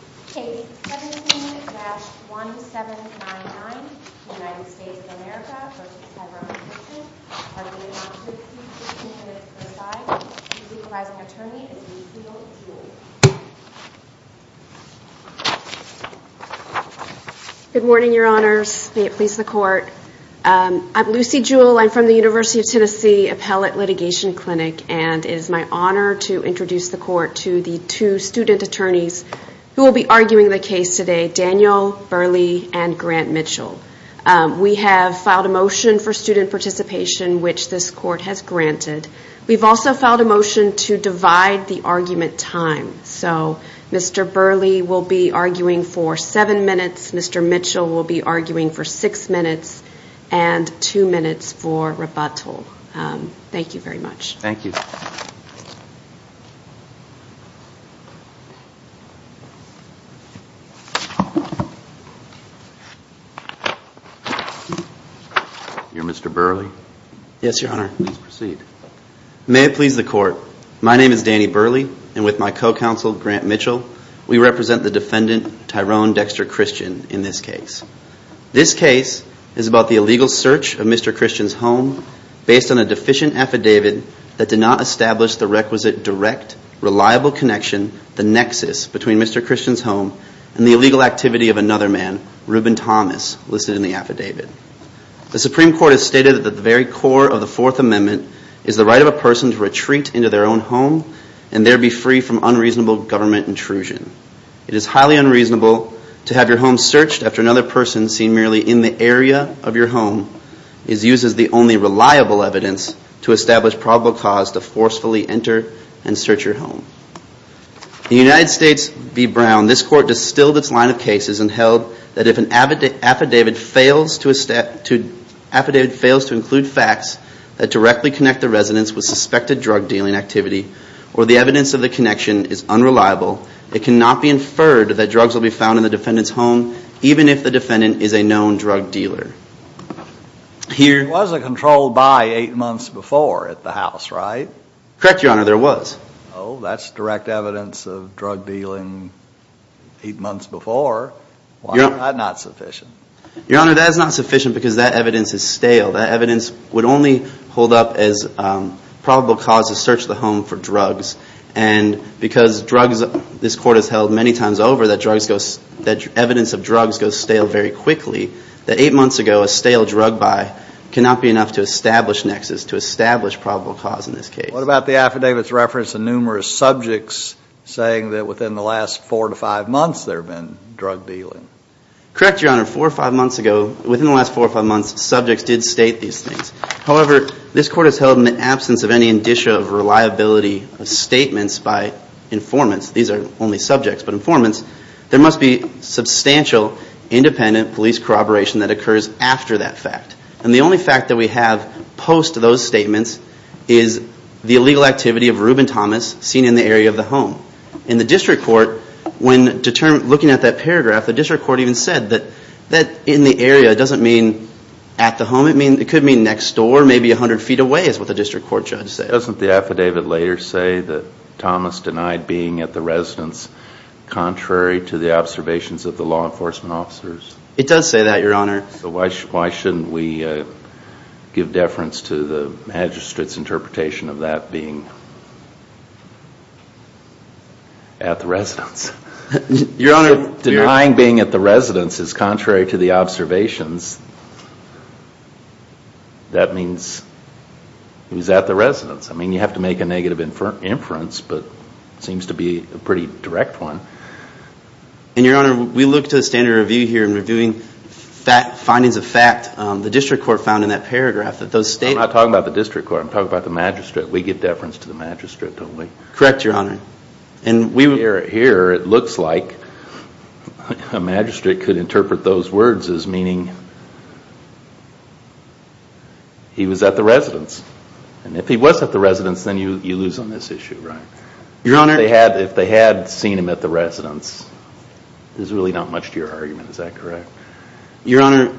K17-1799, United States of America v. Tyrone Christian, arguing on 15-15 minutes per side. The legalizing attorney is Lucille Jewell. Good morning, your honors. May it please the court. I'm Lucille Jewell. I'm from the University of Tennessee Appellate Litigation Clinic, and it is my honor to introduce the court to the two student attorneys who will be arguing the case today, Daniel Burley and Grant Mitchell. We have filed a motion for student participation, which this court has granted. We've also filed a motion to divide the argument time. So Mr. Burley will be arguing for seven minutes, Mr. Mitchell will be arguing for six minutes, and two minutes for rebuttal. Thank you very much. Thank you. You're Mr. Burley? Yes, your honor. Please proceed. May it please the court. My name is Danny Burley, and with my co-counsel, Grant Mitchell, we represent the defendant, Tyrone Dexter Christian, in this case. This case is about the illegal search of Mr. Christian's home based on a deficient affidavit that did not establish the requisite direct, reliable connection, the nexus, between Mr. Christian's home and the illegal activity of another man, Reuben Thomas, listed in the affidavit. The Supreme Court has stated that the very core of the Fourth Amendment is the right of a person to retreat into their own home and there be free from unreasonable government intrusion. It is highly unreasonable to have your home searched after another person seen merely in the area of your home is used as the only reliable evidence to establish probable cause to forcefully enter and search your home. In the United States v. Brown, this court distilled its line of cases and held that if an affidavit fails to include facts that directly connect the residence with suspected drug dealing activity or the evidence of the connection is unreliable, it cannot be inferred that drugs will be found in the defendant's home, even if the defendant is a known drug dealer. There was a controlled by eight months before at the house, right? Correct, Your Honor, there was. Oh, that's direct evidence of drug dealing eight months before. Why is that not sufficient? Your Honor, that is not sufficient because that evidence is stale. That evidence would only hold up as probable cause to search the home for drugs. And because this court has held many times over that evidence of drugs goes stale very quickly, that eight months ago a stale drug buy cannot be enough to establish nexus, to establish probable cause in this case. What about the affidavit's reference of numerous subjects saying that within the last four to five months there had been drug dealing? Correct, Your Honor. Four or five months ago, within the last four or five months, subjects did state these things. However, this court has held in the absence of any indicia of reliability of statements by informants, these are only subjects, but informants, there must be substantial independent police corroboration that occurs after that fact. And the only fact that we have post those statements is the illegal activity of Reuben Thomas seen in the area of the home. In the district court, when looking at that paragraph, the district court even said that in the area doesn't mean at the home, it could mean next door, maybe 100 feet away is what the district court judge said. Doesn't the affidavit later say that Thomas denied being at the residence contrary to the observations of the law enforcement officers? It does say that, Your Honor. So why shouldn't we give deference to the magistrate's interpretation of that being at the residence? Denying being at the residence is contrary to the observations. That means he was at the residence. I mean, you have to make a negative inference, but it seems to be a pretty direct one. And, Your Honor, we look to the standard review here in reviewing findings of fact. The district court found in that paragraph that those statements... I'm not talking about the district court, I'm talking about the magistrate. We give deference to the magistrate, don't we? Correct, Your Honor. Here it looks like a magistrate could interpret those words as meaning he was at the residence. And if he was at the residence, then you lose on this issue, right? Your Honor... If they had seen him at the residence, there's really not much to your argument, is that correct? Your Honor,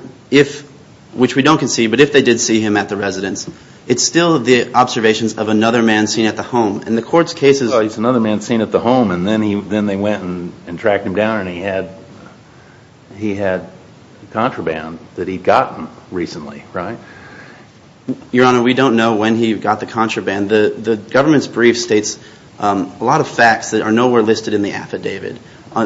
which we don't concede, but if they did see him at the residence, it's still the observations of another man seen at the home. And the court's case is... Oh, he's another man seen at the home, and then they went and tracked him down, and he had contraband that he'd gotten recently, right? Your Honor, we don't know when he got the contraband. The government's brief states a lot of facts that are nowhere listed in the affidavit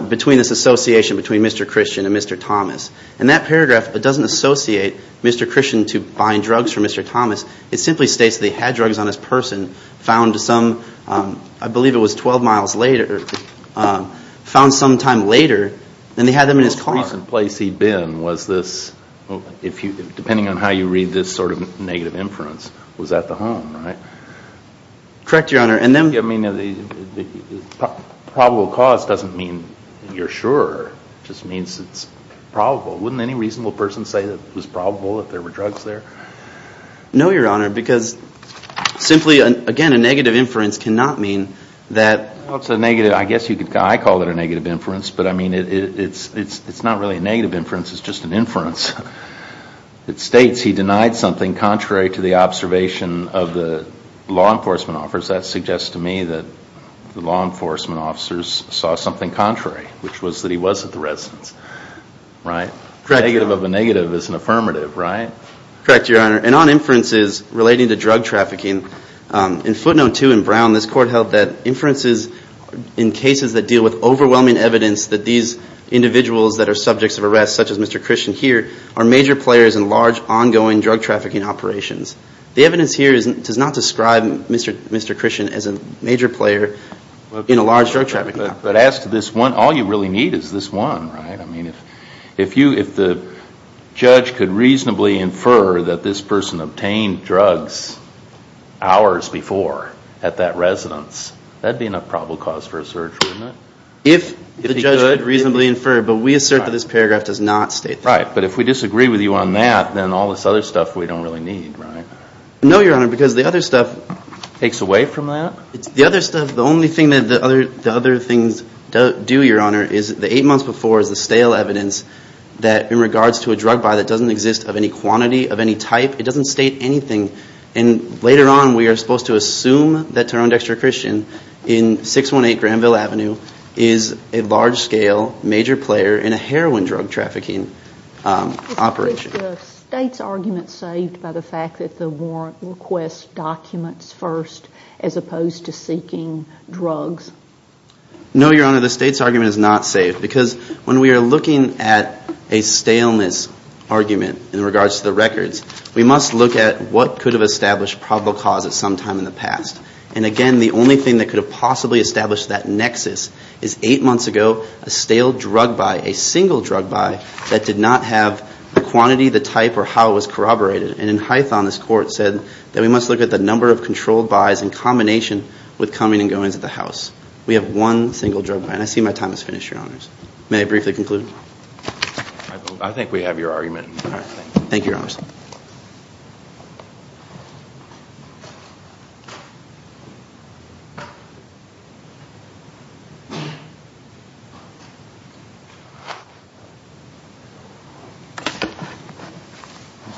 between this association between Mr. Christian and Mr. Thomas. And that paragraph doesn't associate Mr. Christian to buying drugs from Mr. Thomas. It simply states that he had drugs on his person, found some, I believe it was 12 miles later, found some time later, and they had them in his car. The most recent place he'd been was this, depending on how you read this sort of negative inference, was at the home, right? Correct, Your Honor. I mean, probable cause doesn't mean you're sure. It just means it's probable. Wouldn't any reasonable person say that it was probable that there were drugs there? No, Your Honor, because simply, again, a negative inference cannot mean that... Well, it's a negative, I guess you could, I call it a negative inference, but I mean it's not really a negative inference, it's just an inference. It states he denied something contrary to the observation of the law enforcement officers. That suggests to me that the law enforcement officers saw something contrary, which was that he was at the residence, right? Negative of a negative is an affirmative, right? Correct, Your Honor. And on inferences relating to drug trafficking, in footnote 2 in Brown, this court held that inferences in cases that deal with overwhelming evidence that these individuals that are subjects of arrest, such as Mr. Christian here, are major players in large, ongoing drug trafficking operations. The evidence here does not describe Mr. Christian as a major player in a large drug trafficking operation. But as to this one, all you really need is this one, right? If the judge could reasonably infer that this person obtained drugs hours before at that residence, that would be enough probable cause for a search, wouldn't it? If the judge could reasonably infer, but we assert that this paragraph does not state that. Right, but if we disagree with you on that, then all this other stuff we don't really need, right? No, Your Honor, because the other stuff... Takes away from that? is the stale evidence that in regards to a drug buy that doesn't exist of any quantity, of any type, it doesn't state anything. And later on, we are supposed to assume that Taron Dexter Christian in 618 Granville Avenue is a large-scale, major player in a heroin drug trafficking operation. Is the state's argument saved by the fact that the warrant requests documents first, as opposed to seeking drugs? No, Your Honor, the state's argument is not saved. Because when we are looking at a staleness argument in regards to the records, we must look at what could have established probable cause at some time in the past. And again, the only thing that could have possibly established that nexus is 8 months ago, a stale drug buy, a single drug buy, that did not have the quantity, the type, or how it was corroborated. And in Hython, this court said that we must look at the number of controlled buys in combination with comings and goings of the house. We have one single drug buy, and I see my time is finished, Your Honors. May I briefly conclude? I think we have your argument. Mr.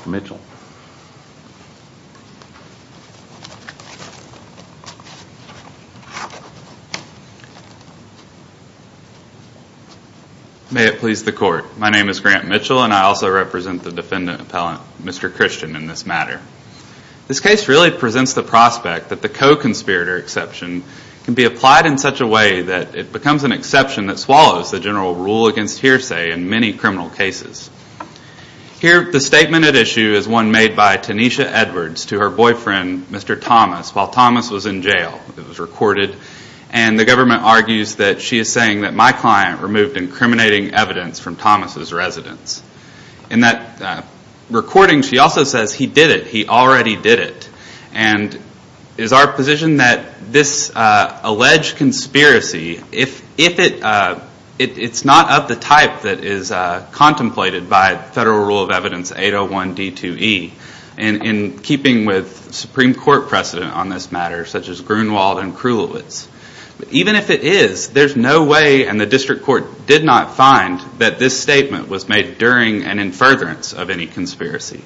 Mitchell. May it please the court. My name is Grant Mitchell, and I also represent the defendant appellant, Mr. Christian, in this matter. This case really presents the prospect that the co-conspirator exception can be applied in such a way that it becomes an exception that swallows the general rule against hearsay in many criminal cases. Here, the statement at issue is one made by Tanisha Edwards to her boyfriend, Mr. Thomas, while Thomas was in jail. It was recorded. And the government argues that she is saying that my client removed incriminating evidence from Thomas' residence. In that recording, she also says he did it, he already did it. And is our position that this alleged conspiracy, if it's not of the type that is contemplated by Federal Rule of Evidence 801D2E, in keeping with Supreme Court precedent on this matter, such as Grunewald and Krulowitz, even if it is, there's no way, and the district court did not find, that this statement was made during an in furtherance of any conspiracy.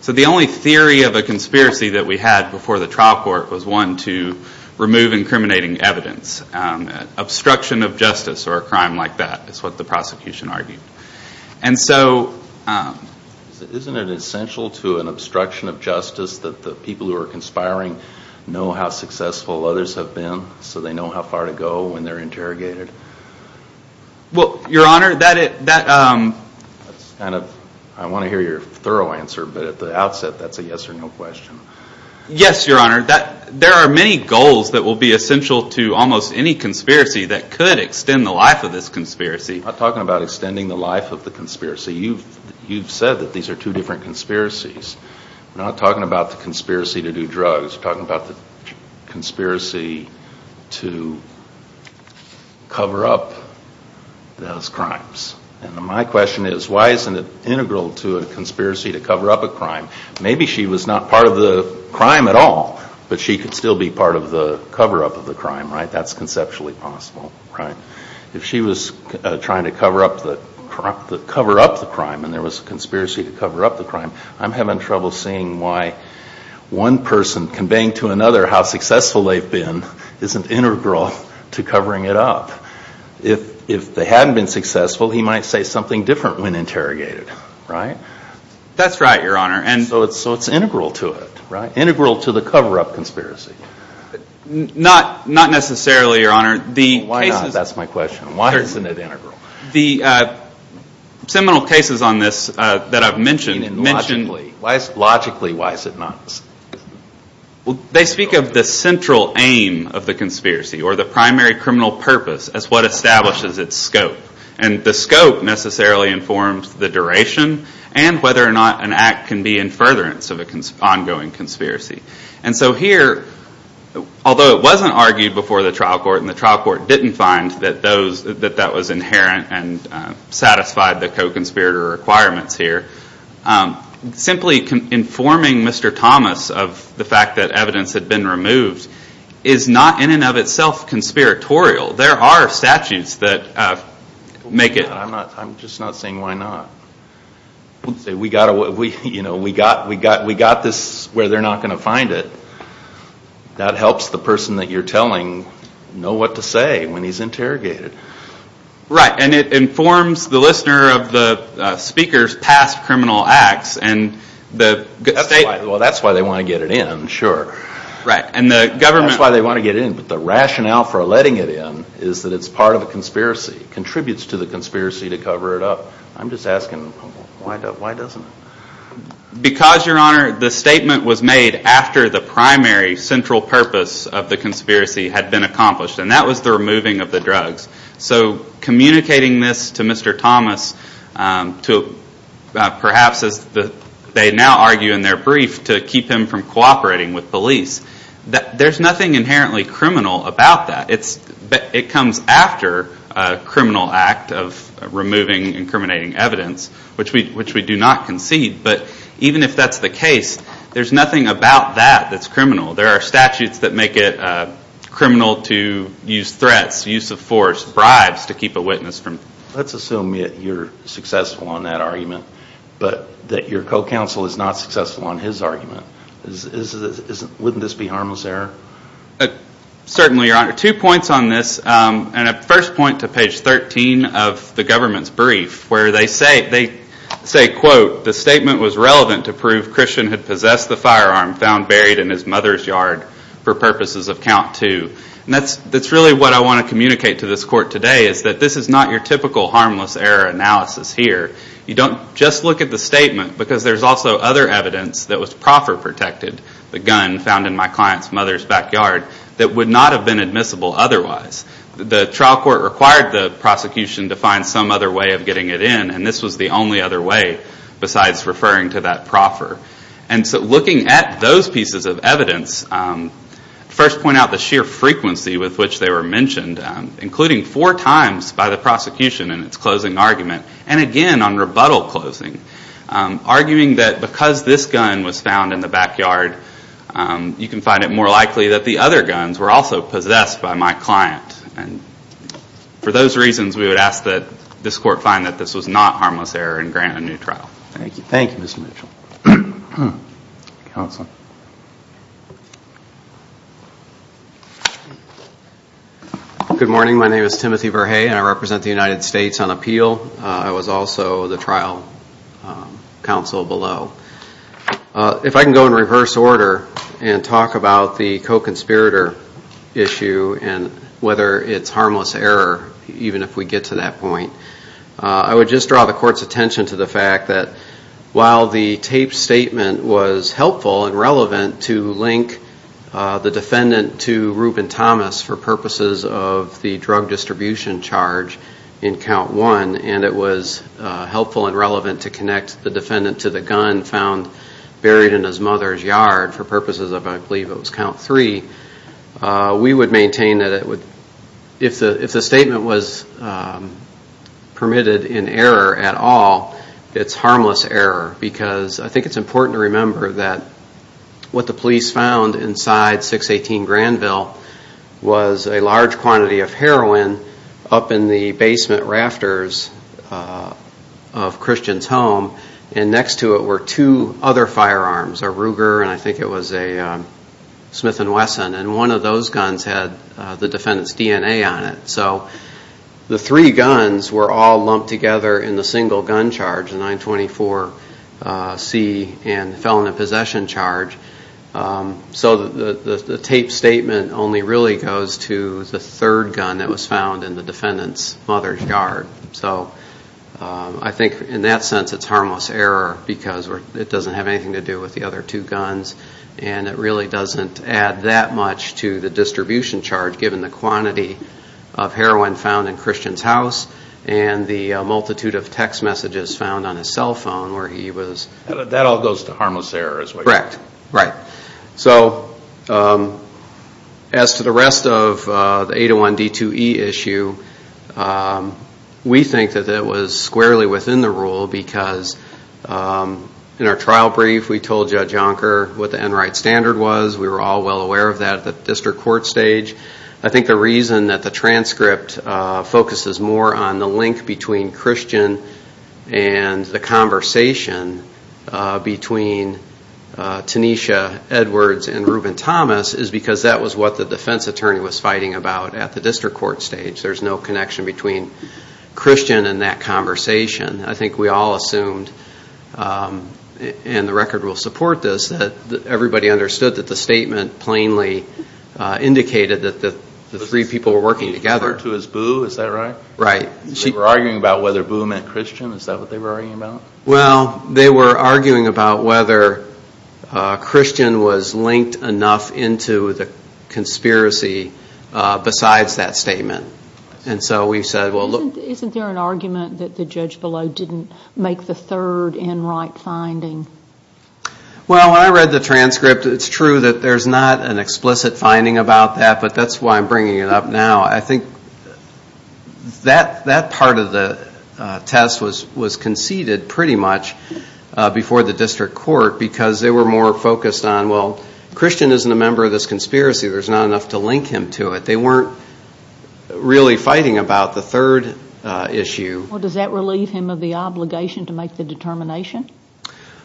So the only theory of a conspiracy that we had before the trial court was one to remove incriminating evidence. Obstruction of justice or a crime like that is what the prosecution argued. And so... Isn't it essential to an obstruction of justice that the people who are conspiring know how successful others have been, so they know how far to go when they're interrogated? Well, Your Honor, that... I want to hear your thorough answer, but at the outset, that's a yes or no question. Yes, Your Honor. There are many goals that will be essential to almost any conspiracy that could extend the life of this conspiracy. I'm not talking about extending the life of the conspiracy. You've said that these are two different conspiracies. We're not talking about the conspiracy to do drugs. We're talking about the conspiracy to cover up those crimes. And my question is, why isn't it integral to a conspiracy to cover up a crime? Maybe she was not part of the crime at all, but she could still be part of the cover-up of the crime, right? That's conceptually possible, right? If she was trying to cover up the crime and there was a conspiracy to cover up the crime, I'm having trouble seeing why one person conveying to another how successful they've been isn't integral to covering it up. If they hadn't been successful, he might say something different when interrogated, right? That's right, Your Honor. So it's integral to it, right? Integral to the cover-up conspiracy. Not necessarily, Your Honor. That's my question. Why isn't it integral? The seminal cases on this that I've mentioned. Logically, why is it not? They speak of the central aim of the conspiracy or the primary criminal purpose as what establishes its scope. And the scope necessarily informs the duration and whether or not an act can be in furtherance of an ongoing conspiracy. And so here, although it wasn't argued before the trial court and the trial court didn't find that that was inherent and satisfied the co-conspirator requirements here, simply informing Mr. Thomas of the fact that evidence had been removed is not in and of itself conspiratorial. There are statutes that make it. I'm just not saying why not. We got this where they're not going to find it. That helps the person that you're telling know what to say when he's interrogated. Right, and it informs the listener of the speaker's past criminal acts. Well, that's why they want to get it in, sure. That's why they want to get it in. But the rationale for letting it in is that it's part of a conspiracy. It contributes to the conspiracy to cover it up. I'm just asking why doesn't it? Because, Your Honor, the statement was made after the primary central purpose of the conspiracy had been accomplished, and that was the removing of the drugs. So communicating this to Mr. Thomas to perhaps, as they now argue in their brief, to keep him from cooperating with police, there's nothing inherently criminal about that. It comes after a criminal act of removing and incriminating evidence, which we do not concede. But even if that's the case, there's nothing about that that's criminal. There are statutes that make it criminal to use threats, use of force, bribes to keep a witness from. Let's assume that you're successful on that argument, but that your co-counsel is not successful on his argument. Wouldn't this be harmless error? Certainly, Your Honor. Two points on this, and a first point to page 13 of the government's brief, where they say, quote, The statement was relevant to prove Christian had possessed the firearm found buried in his mother's yard for purposes of count two. That's really what I want to communicate to this court today, is that this is not your typical harmless error analysis here. You don't just look at the statement, because there's also other evidence that was proper protected, the gun found in my client's mother's backyard, that would not have been admissible otherwise. The trial court required the prosecution to find some other way of getting it in, and this was the only other way besides referring to that proffer. And so looking at those pieces of evidence, first point out the sheer frequency with which they were mentioned, including four times by the prosecution in its closing argument, and again on rebuttal closing, arguing that because this gun was found in the backyard, you can find it more likely that the other guns were also possessed by my client. For those reasons, we would ask that this court find that this was not harmless error and grant a new trial. Thank you. Thank you, Mr. Mitchell. Good morning. My name is Timothy Verhey, and I represent the United States on appeal. I was also the trial counsel below. If I can go in reverse order and talk about the co-conspirator issue and whether it's harmless error, even if we get to that point, I would just draw the court's attention to the fact that while the taped statement was helpful and relevant to link the defendant to Ruben Thomas for purposes of the drug distribution charge in count one, and it was helpful and relevant to connect the defendant to the gun found buried in his mother's yard for purposes of, I believe it was count three, we would maintain that if the statement was permitted in error at all, it's harmless error because I think it's important to remember that what the police found inside 618 Granville was a large quantity of heroin up in the basement rafters of Christian's home, and next to it were two other firearms, a Ruger and I think it was a Smith & Wesson, and one of those guns had the defendant's DNA on it. So the three guns were all lumped together in the single gun charge, the 924C and the felon in possession charge. So the taped statement only really goes to the third gun that was found in the defendant's mother's yard. So I think in that sense it's harmless error because it doesn't have anything to do with the other two guns, and it really doesn't add that much to the distribution charge given the quantity of heroin found in Christian's house and the multitude of text messages found on his cell phone where he was. That all goes to harmless error. Correct, right. So as to the rest of the 801D2E issue, we think that it was squarely within the rule because in our trial brief we told Judge Jonker what the Enright Standard was. We were all well aware of that at the district court stage. I think the reason that the transcript focuses more on the link between Christian and the conversation between Tanisha Edwards and Reuben Thomas is because that was what the defense attorney was fighting about at the district court stage. There's no connection between Christian and that conversation. I think we all assumed, and the record will support this, that everybody understood that the statement plainly indicated that the three people were working together. The three people referred to as Boo, is that right? Right. They were arguing about whether Boo meant Christian, is that what they were arguing about? Well, they were arguing about whether Christian was linked enough into the conspiracy besides that statement. Isn't there an argument that the judge below didn't make the third Enright finding? Well, when I read the transcript, it's true that there's not an explicit finding about that, but that's why I'm bringing it up now. I think that part of the test was conceded pretty much before the district court because they were more focused on, well, Christian isn't a member of this conspiracy. There's not enough to link him to it. They weren't really fighting about the third issue. Well, does that relieve him of the obligation to make the determination?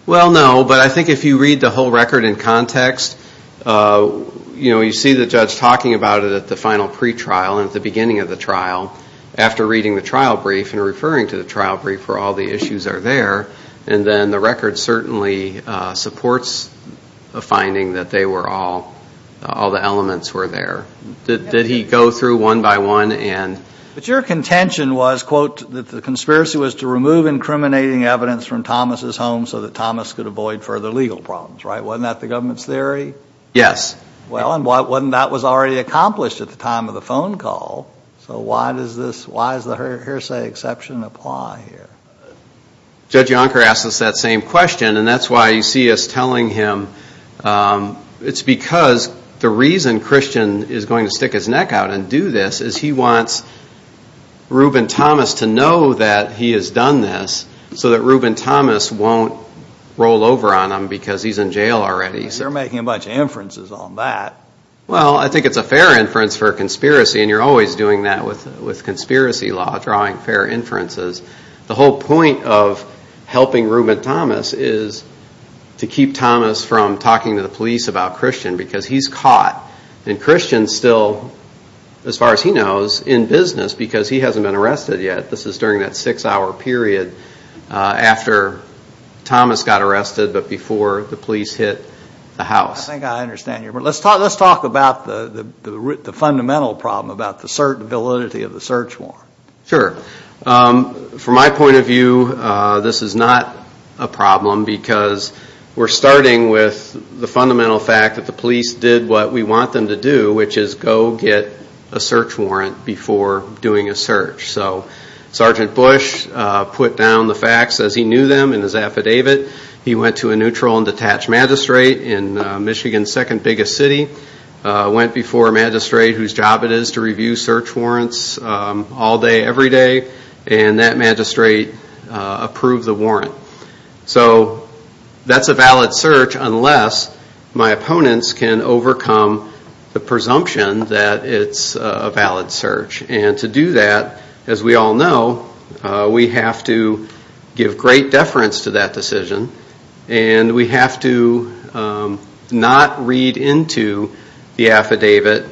Well, no, but I think if you read the whole record in context, you see the judge talking about it at the final pretrial and at the beginning of the trial, after reading the trial brief and referring to the trial brief where all the issues are there, and then the record certainly supports the finding that all the elements were there. Did he go through one by one? But your contention was, quote, that the conspiracy was to remove incriminating evidence from Thomas' home so that Thomas could avoid further legal problems, right? Wasn't that the government's theory? Yes. Well, and that was already accomplished at the time of the phone call, so why does the hearsay exception apply here? Judge Yonker asked us that same question, and that's why you see us telling him. It's because the reason Christian is going to stick his neck out and do this is he wants Reuben Thomas to know that he has done this so that Reuben Thomas won't roll over on him because he's in jail already. They're making a bunch of inferences on that. Well, I think it's a fair inference for a conspiracy, and you're always doing that with conspiracy law, drawing fair inferences. The whole point of helping Reuben Thomas is to keep Thomas from talking to the police about Christian because he's caught, and Christian's still, as far as he knows, in business because he hasn't been arrested yet. This is during that six-hour period after Thomas got arrested but before the police hit the house. I think I understand you. Let's talk about the fundamental problem, about the validity of the search warrant. Sure. From my point of view, this is not a problem because we're starting with the fundamental fact that the police did what we want them to do, which is go get a search warrant before doing a search. Sergeant Bush put down the facts as he knew them in his affidavit. He went to a neutral and detached magistrate in Michigan's second biggest city, went before a magistrate whose job it is to review search warrants all day, every day, and that magistrate approved the warrant. That's a valid search unless my opponents can overcome the presumption that it's a valid search. To do that, as we all know, we have to give great deference to that decision and we have to not read into the affidavit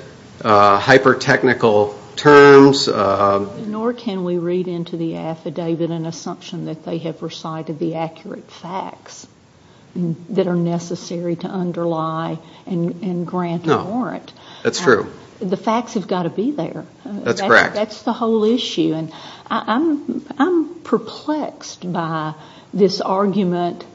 hyper-technical terms. Nor can we read into the affidavit an assumption that they have recited the accurate facts that are necessary to underlie and grant a warrant. That's true. The facts have got to be there. That's correct. That's the whole issue. I'm perplexed by this argument,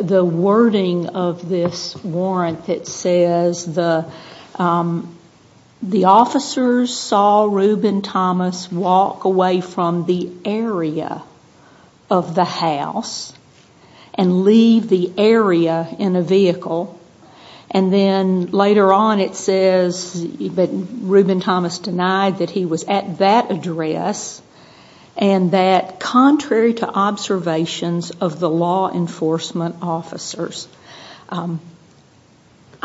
the wording of this warrant that says the officers saw Reuben Thomas walk away from the area of the house and leave the area in a vehicle. Then later on it says Reuben Thomas denied that he was at that address and that contrary to observations of the law enforcement officers. I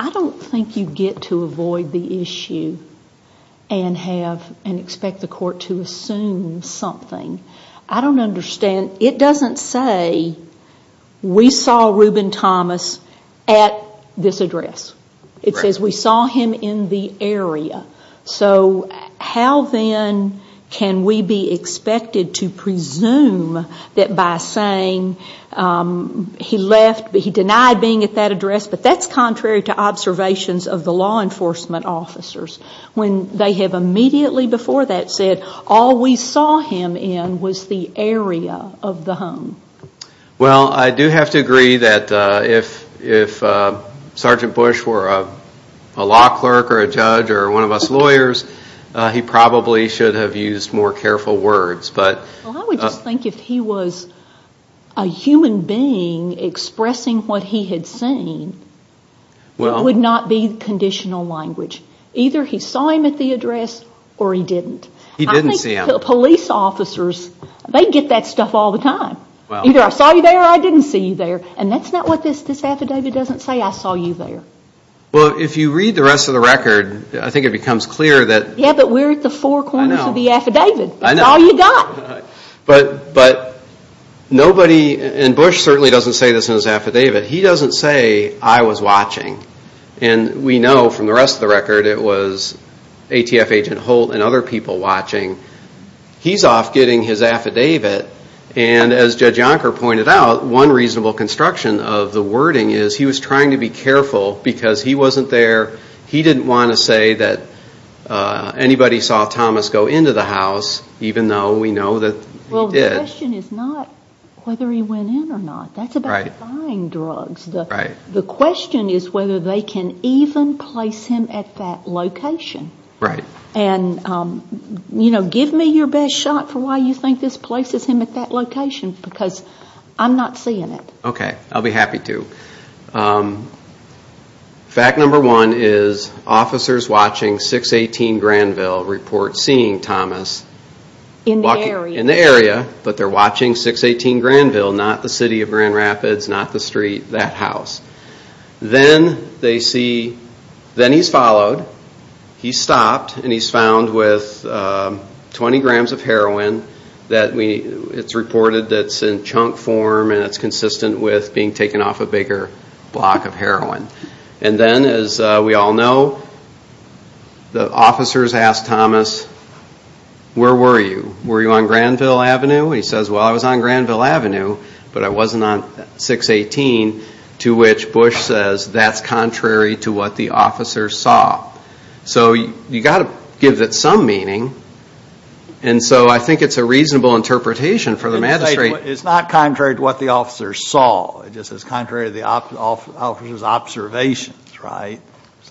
don't think you get to avoid the issue and expect the court to assume something. I don't understand. It doesn't say we saw Reuben Thomas at this address. It says we saw him in the area. How then can we be expected to presume that by saying he left, he denied being at that address, but that's contrary to observations of the law enforcement officers when they have immediately before that said all we saw him in was the area of the home. I do have to agree that if Sgt. Bush were a law clerk or a judge or one of us lawyers, he probably should have used more careful words. I would just think if he was a human being expressing what he had seen, it would not be conditional language. Either he saw him at the address or he didn't. He didn't see him. Police officers, they get that stuff all the time. Either I saw you there or I didn't see you there. That's not what this affidavit doesn't say. I saw you there. If you read the rest of the record, I think it becomes clear. Yeah, but we're at the four corners of the affidavit. That's all you've got. Bush certainly doesn't say this in his affidavit. He doesn't say I was watching. We know from the rest of the record it was ATF agent Holt and other people watching. He's off getting his affidavit. As Judge Yonker pointed out, one reasonable construction of the wording is he was trying to be careful because he wasn't there. He didn't want to say that anybody saw Thomas go into the house, even though we know that he did. The question is not whether he went in or not. That's about buying drugs. The question is whether they can even place him at that location. Give me your best shot for why you think this places him at that location because I'm not seeing it. Okay, I'll be happy to. Fact number one is officers watching 618 Granville report seeing Thomas. In the area. In the area, but they're watching 618 Granville, not the city of Grand Rapids, not the street, that house. Then he's followed. He's stopped and he's found with 20 grams of heroin. It's reported that it's in chunk form and it's consistent with being taken off a bigger block of heroin. Then, as we all know, the officers ask Thomas, where were you? Were you on Granville Avenue? He says, well, I was on Granville Avenue, but I wasn't on 618, to which Bush says that's contrary to what the officers saw. So you've got to give it some meaning, and so I think it's a reasonable interpretation for the magistrate. It's not contrary to what the officers saw. It just says contrary to the officers' observations, right?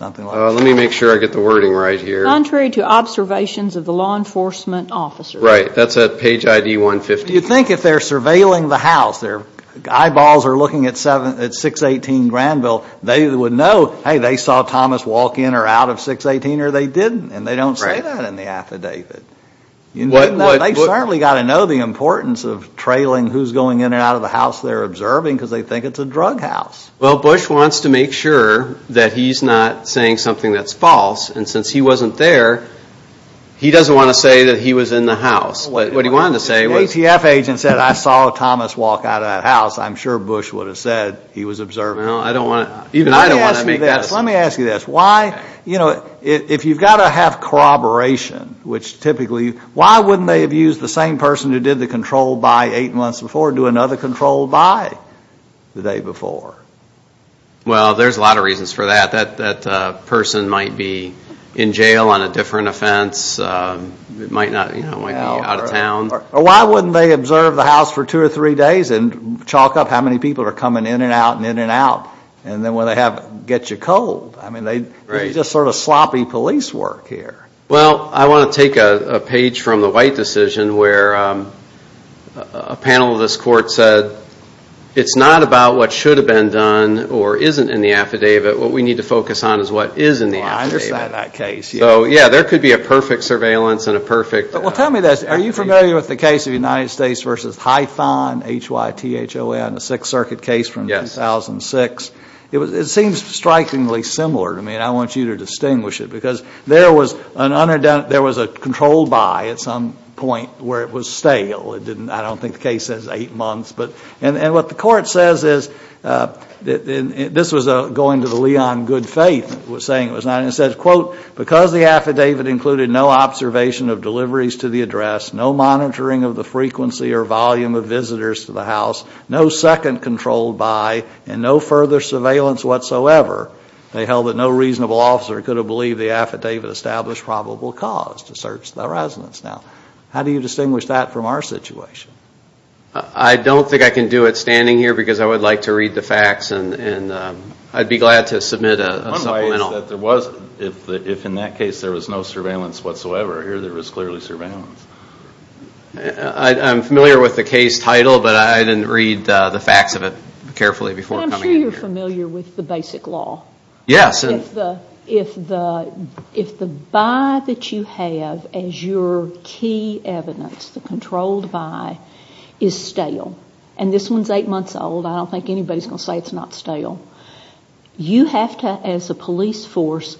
Let me make sure I get the wording right here. Contrary to observations of the law enforcement officers. Right, that's at page ID 150. You think if they're surveilling the house, their eyeballs are looking at 618 Granville, they would know, hey, they saw Thomas walk in or out of 618 or they didn't, and they don't say that in the affidavit. They've certainly got to know the importance of trailing who's going in and out of the house they're observing because they think it's a drug house. Well, Bush wants to make sure that he's not saying something that's false, and since he wasn't there, he doesn't want to say that he was in the house. What he wanted to say was... If the ATF agent said I saw Thomas walk out of that house, I'm sure Bush would have said he was observing. Well, I don't want to... Even I don't want to make that... Let me ask you this. Why, you know, if you've got to have corroboration, which typically, why wouldn't they have used the same person who did the controlled by eight months before do another controlled by the day before? Well, there's a lot of reasons for that. That person might be in jail on a different offense. It might be out of town. Why wouldn't they observe the house for two or three days and chalk up how many people are coming in and out and in and out, and then when they have it, get you cold? I mean, this is just sort of sloppy police work here. Well, I want to take a page from the White decision where a panel of this court said, it's not about what should have been done or isn't in the affidavit. What we need to focus on is what is in the affidavit. Well, I understand that case. So, yeah, there could be a perfect surveillance and a perfect... Well, tell me this. Are you familiar with the case of United States v. Hython, H-Y-T-H-O-N, the Sixth Circuit case from 2006? Yes. It seems strikingly similar. I mean, I want you to distinguish it because there was a controlled by at some point where it was stale. I don't think the case says eight months. And what the court says is, and this was going to the Leon good faith saying it was not, and it says, quote, because the affidavit included no observation of deliveries to the address, no monitoring of the frequency or volume of visitors to the house, no second controlled by, and no further surveillance whatsoever, they held that no reasonable officer could have believed the affidavit established probable cause to search the residence. Now, how do you distinguish that from our situation? I don't think I can do it standing here because I would like to read the facts, and I'd be glad to submit a supplemental. One way is that if in that case there was no surveillance whatsoever, here there was clearly surveillance. I'm familiar with the case title, but I didn't read the facts of it carefully before coming in here. I'm sure you're familiar with the basic law. Yes. If the by that you have as your key evidence, the controlled by, is stale, and this one's eight months old, I don't think anybody's going to say it's not stale, you have to, as a police force,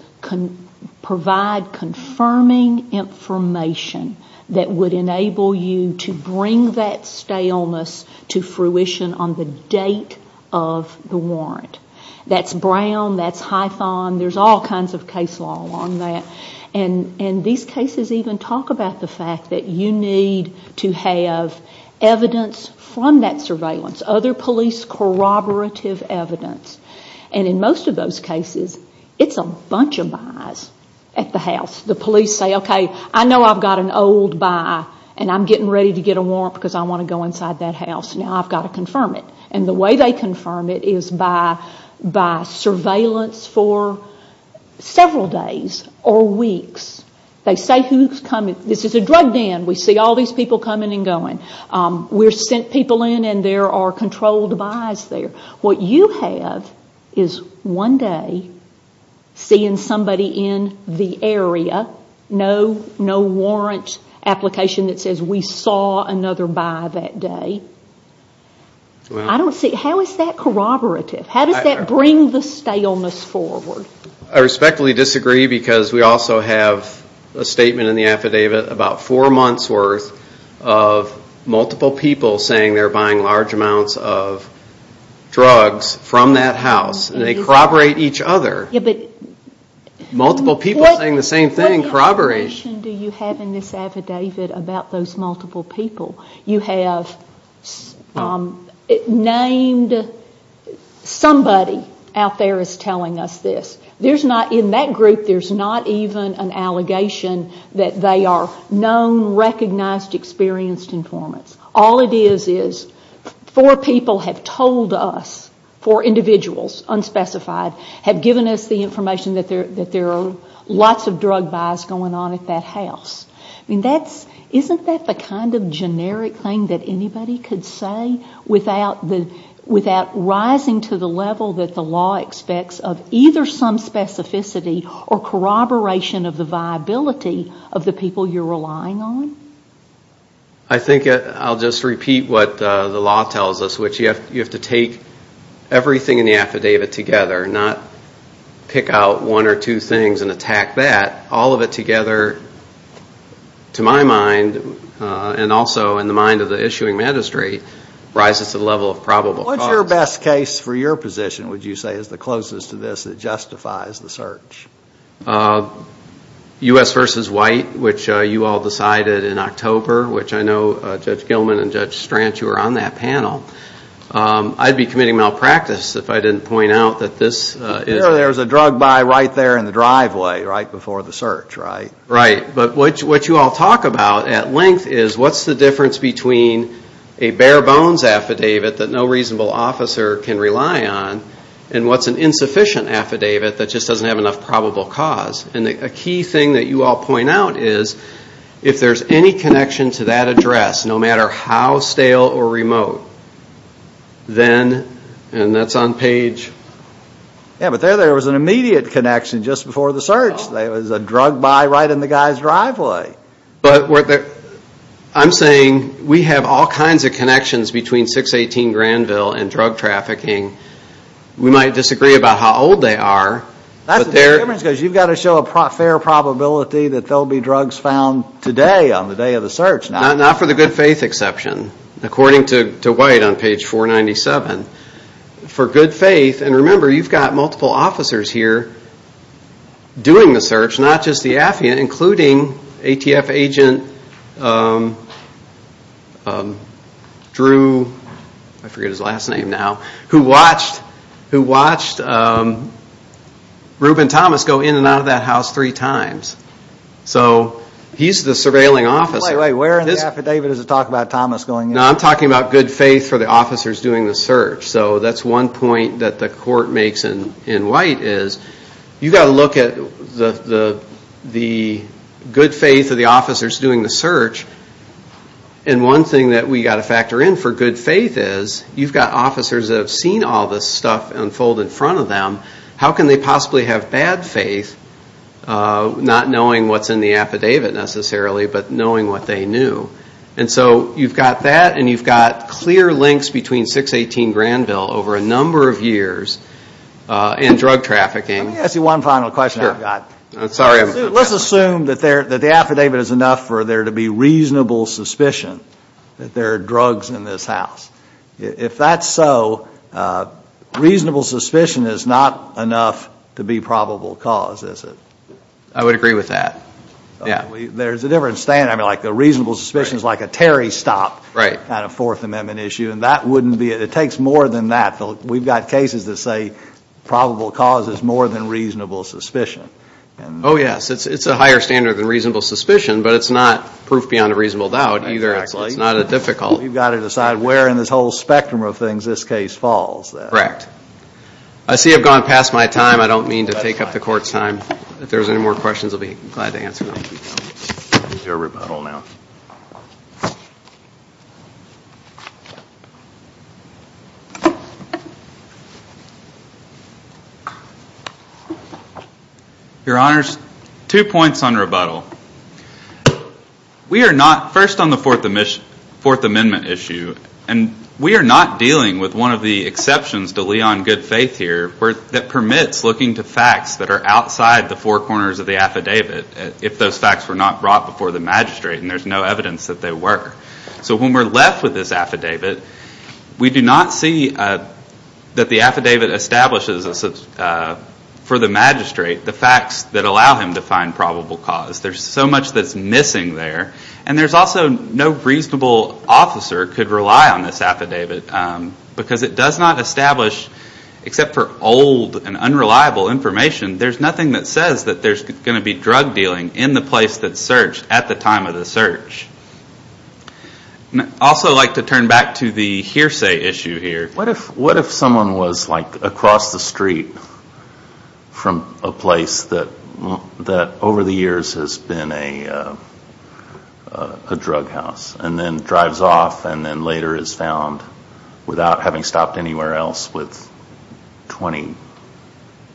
provide confirming information that would enable you to bring that staleness to fruition on the date of the warrant. That's Brown. That's Hython. There's all kinds of case law on that, and these cases even talk about the fact that you need to have evidence from that surveillance, other police corroborative evidence, and in most of those cases it's a bunch of bys at the house. The police say, okay, I know I've got an old by, and I'm getting ready to get a warrant because I want to go inside that house. Now I've got to confirm it, and the way they confirm it is by surveillance for several days or weeks. They say who's coming. This is a drug den. We see all these people coming and going. We've sent people in, and there are controlled bys there. What you have is one day seeing somebody in the area, no warrant application that says we saw another by that day. How is that corroborative? How does that bring the staleness forward? I respectfully disagree because we also have a statement in the affidavit about four months' worth of multiple people saying they're buying large amounts of drugs from that house, and they corroborate each other. Multiple people saying the same thing, corroboration. What information do you have in this affidavit about those multiple people? You have named somebody out there as telling us this. In that group, there's not even an allegation that they are known, recognized, experienced informants. All it is is four people have told us, four individuals, unspecified, have given us the information that there are lots of drug buys going on at that house. Isn't that the kind of generic thing that anybody could say without rising to the level that the law expects of either some specificity or corroboration of the viability of the people you're relying on? I think I'll just repeat what the law tells us, which you have to take everything in the affidavit together, not pick out one or two things and attack that. All of it together, to my mind, and also in the mind of the issuing magistrate, rises to the level of probable cause. What's your best case for your position, would you say, as the closest to this that justifies the search? U.S. v. White, which you all decided in October, which I know Judge Gilman and Judge Stranch, who were on that panel, I'd be committing malpractice if I didn't point out that this is... But what you all talk about at length is what's the difference between a bare bones affidavit that no reasonable officer can rely on and what's an insufficient affidavit that just doesn't have enough probable cause. A key thing that you all point out is if there's any connection to that address, no matter how stale or remote, then... and that's on page... Yeah, but there there was an immediate connection just before the search. There was a drug buy right in the guy's driveway. But I'm saying we have all kinds of connections between 618 Granville and drug trafficking. We might disagree about how old they are. That's the difference, because you've got to show a fair probability that there will be drugs found today on the day of the search. Not for the good faith exception, according to White on page 497. For good faith, and remember you've got multiple officers here doing the search, not just the affidavit, including ATF agent Drew... I forget his last name now... who watched Reuben Thomas go in and out of that house three times. So he's the surveilling officer. Wait, wait, where in the affidavit does it talk about Thomas going in? No, I'm talking about good faith for the officers doing the search. So that's one point that the court makes in White is, you've got to look at the good faith of the officers doing the search. And one thing that we've got to factor in for good faith is, you've got officers that have seen all this stuff unfold in front of them. How can they possibly have bad faith, not knowing what's in the affidavit necessarily, but knowing what they knew? And so you've got that, and you've got clear links between 618 Granville over a number of years and drug trafficking. Let me ask you one final question I've got. Let's assume that the affidavit is enough for there to be reasonable suspicion that there are drugs in this house. If that's so, reasonable suspicion is not enough to be probable cause, is it? I would agree with that. There's a different standard. I mean, the reasonable suspicion is like a Terry stop kind of Fourth Amendment issue, and that wouldn't be it. It takes more than that. We've got cases that say probable cause is more than reasonable suspicion. Oh, yes. It's a higher standard than reasonable suspicion, but it's not proof beyond a reasonable doubt either. It's not a difficult. You've got to decide where in this whole spectrum of things this case falls. Correct. I see I've gone past my time. I don't mean to take up the court's time. If there's any more questions, I'll be glad to answer them. We'll do a rebuttal now. Your Honors, two points on rebuttal. We are not first on the Fourth Amendment issue, and we are not dealing with one of the exceptions to Leon good faith here that permits looking to facts that are outside the four corners of the affidavit if those facts were not brought before the magistrate, and there's no evidence that they were. So when we're left with this affidavit, we do not see that the affidavit establishes for the magistrate the facts that allow him to find probable cause. There's so much that's missing there, and there's also no reasonable officer could rely on this affidavit because it does not establish, except for old and unreliable information, there's nothing that says that there's going to be drug dealing in the place that's searched at the time of the search. I'd also like to turn back to the hearsay issue here. What if someone was like across the street from a place that over the years has been a drug house and then drives off and then later is found without having stopped anywhere else with 20,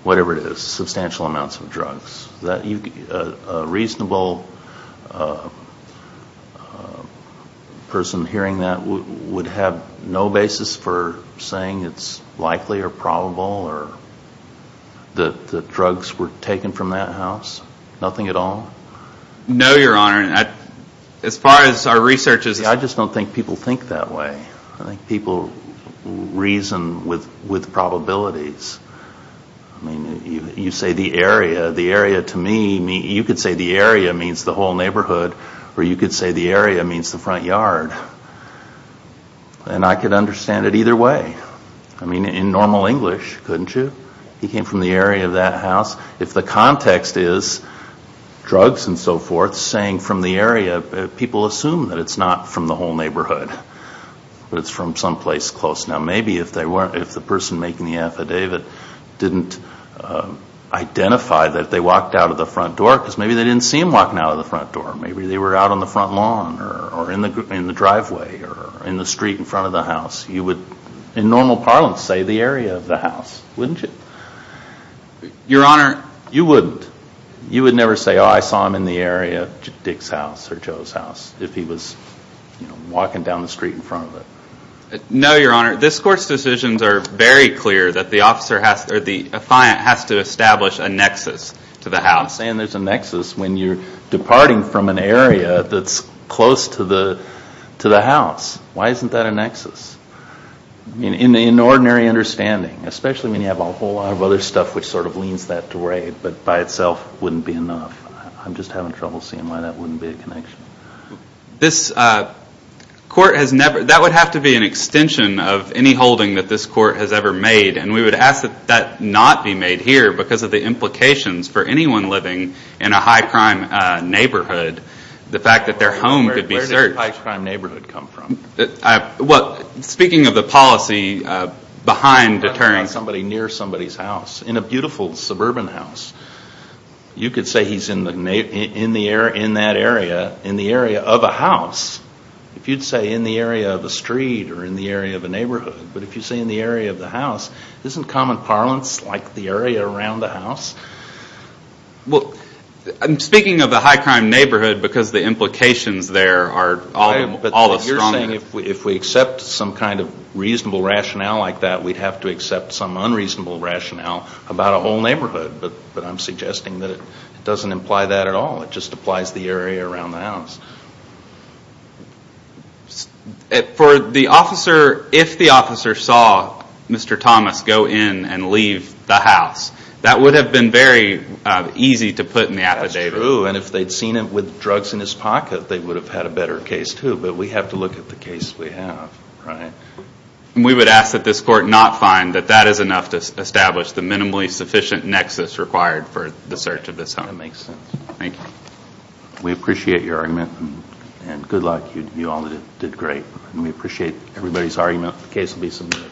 whatever it is, substantial amounts of drugs? A reasonable person hearing that would have no basis for saying it's likely or probable or that drugs were taken from that house? Nothing at all? No, Your Honor. As far as our research is concerned. I just don't think people think that way. I think people reason with probabilities. You say the area, the area to me, you could say the area means the whole neighborhood or you could say the area means the front yard. And I could understand it either way. I mean, in normal English, couldn't you? He came from the area of that house. If the context is drugs and so forth saying from the area, people assume that it's not from the whole neighborhood, but it's from someplace close. Now maybe if the person making the affidavit didn't identify that they walked out of the front door because maybe they didn't see him walking out of the front door. Maybe they were out on the front lawn or in the driveway or in the street in front of the house. You would, in normal parlance, say the area of the house, wouldn't you? Your Honor. You wouldn't. You would never say, oh, I saw him in the area, Dick's house or Joe's house, if he was walking down the street in front of it. No, Your Honor. This Court's decisions are very clear that the officer has to, or the defiant, has to establish a nexus to the house. I'm saying there's a nexus when you're departing from an area that's close to the house. Why isn't that a nexus? In ordinary understanding, especially when you have a whole lot of other stuff which sort of leans that way, but by itself wouldn't be enough. I'm just having trouble seeing why that wouldn't be a connection. This Court has never, that would have to be an extension of any holding that this Court has ever made, and we would ask that that not be made here because of the implications for anyone living in a high-crime neighborhood, the fact that their home could be searched. Where did the high-crime neighborhood come from? Speaking of the policy behind deterrence... That's not somebody near somebody's house. In a beautiful suburban house, you could say he's in that area, in the area of a house. If you'd say in the area of a street or in the area of a neighborhood, but if you say in the area of the house, isn't common parlance like the area around the house? Speaking of the high-crime neighborhood, because the implications there are all the stronger... If we accept some kind of reasonable rationale like that, we'd have to accept some unreasonable rationale about a whole neighborhood, but I'm suggesting that it doesn't imply that at all. It just applies the area around the house. For the officer, if the officer saw Mr. Thomas go in and leave the house, that would have been very easy to put in the affidavit. If they'd seen him with drugs in his pocket, they would have had a better case too, but we have to look at the case we have. We would ask that this Court not find that that is enough to establish the minimally sufficient nexus required for the search of this home. That makes sense. Thank you. We appreciate your argument, and good luck. You all did great. We appreciate everybody's argument. The case will be submitted.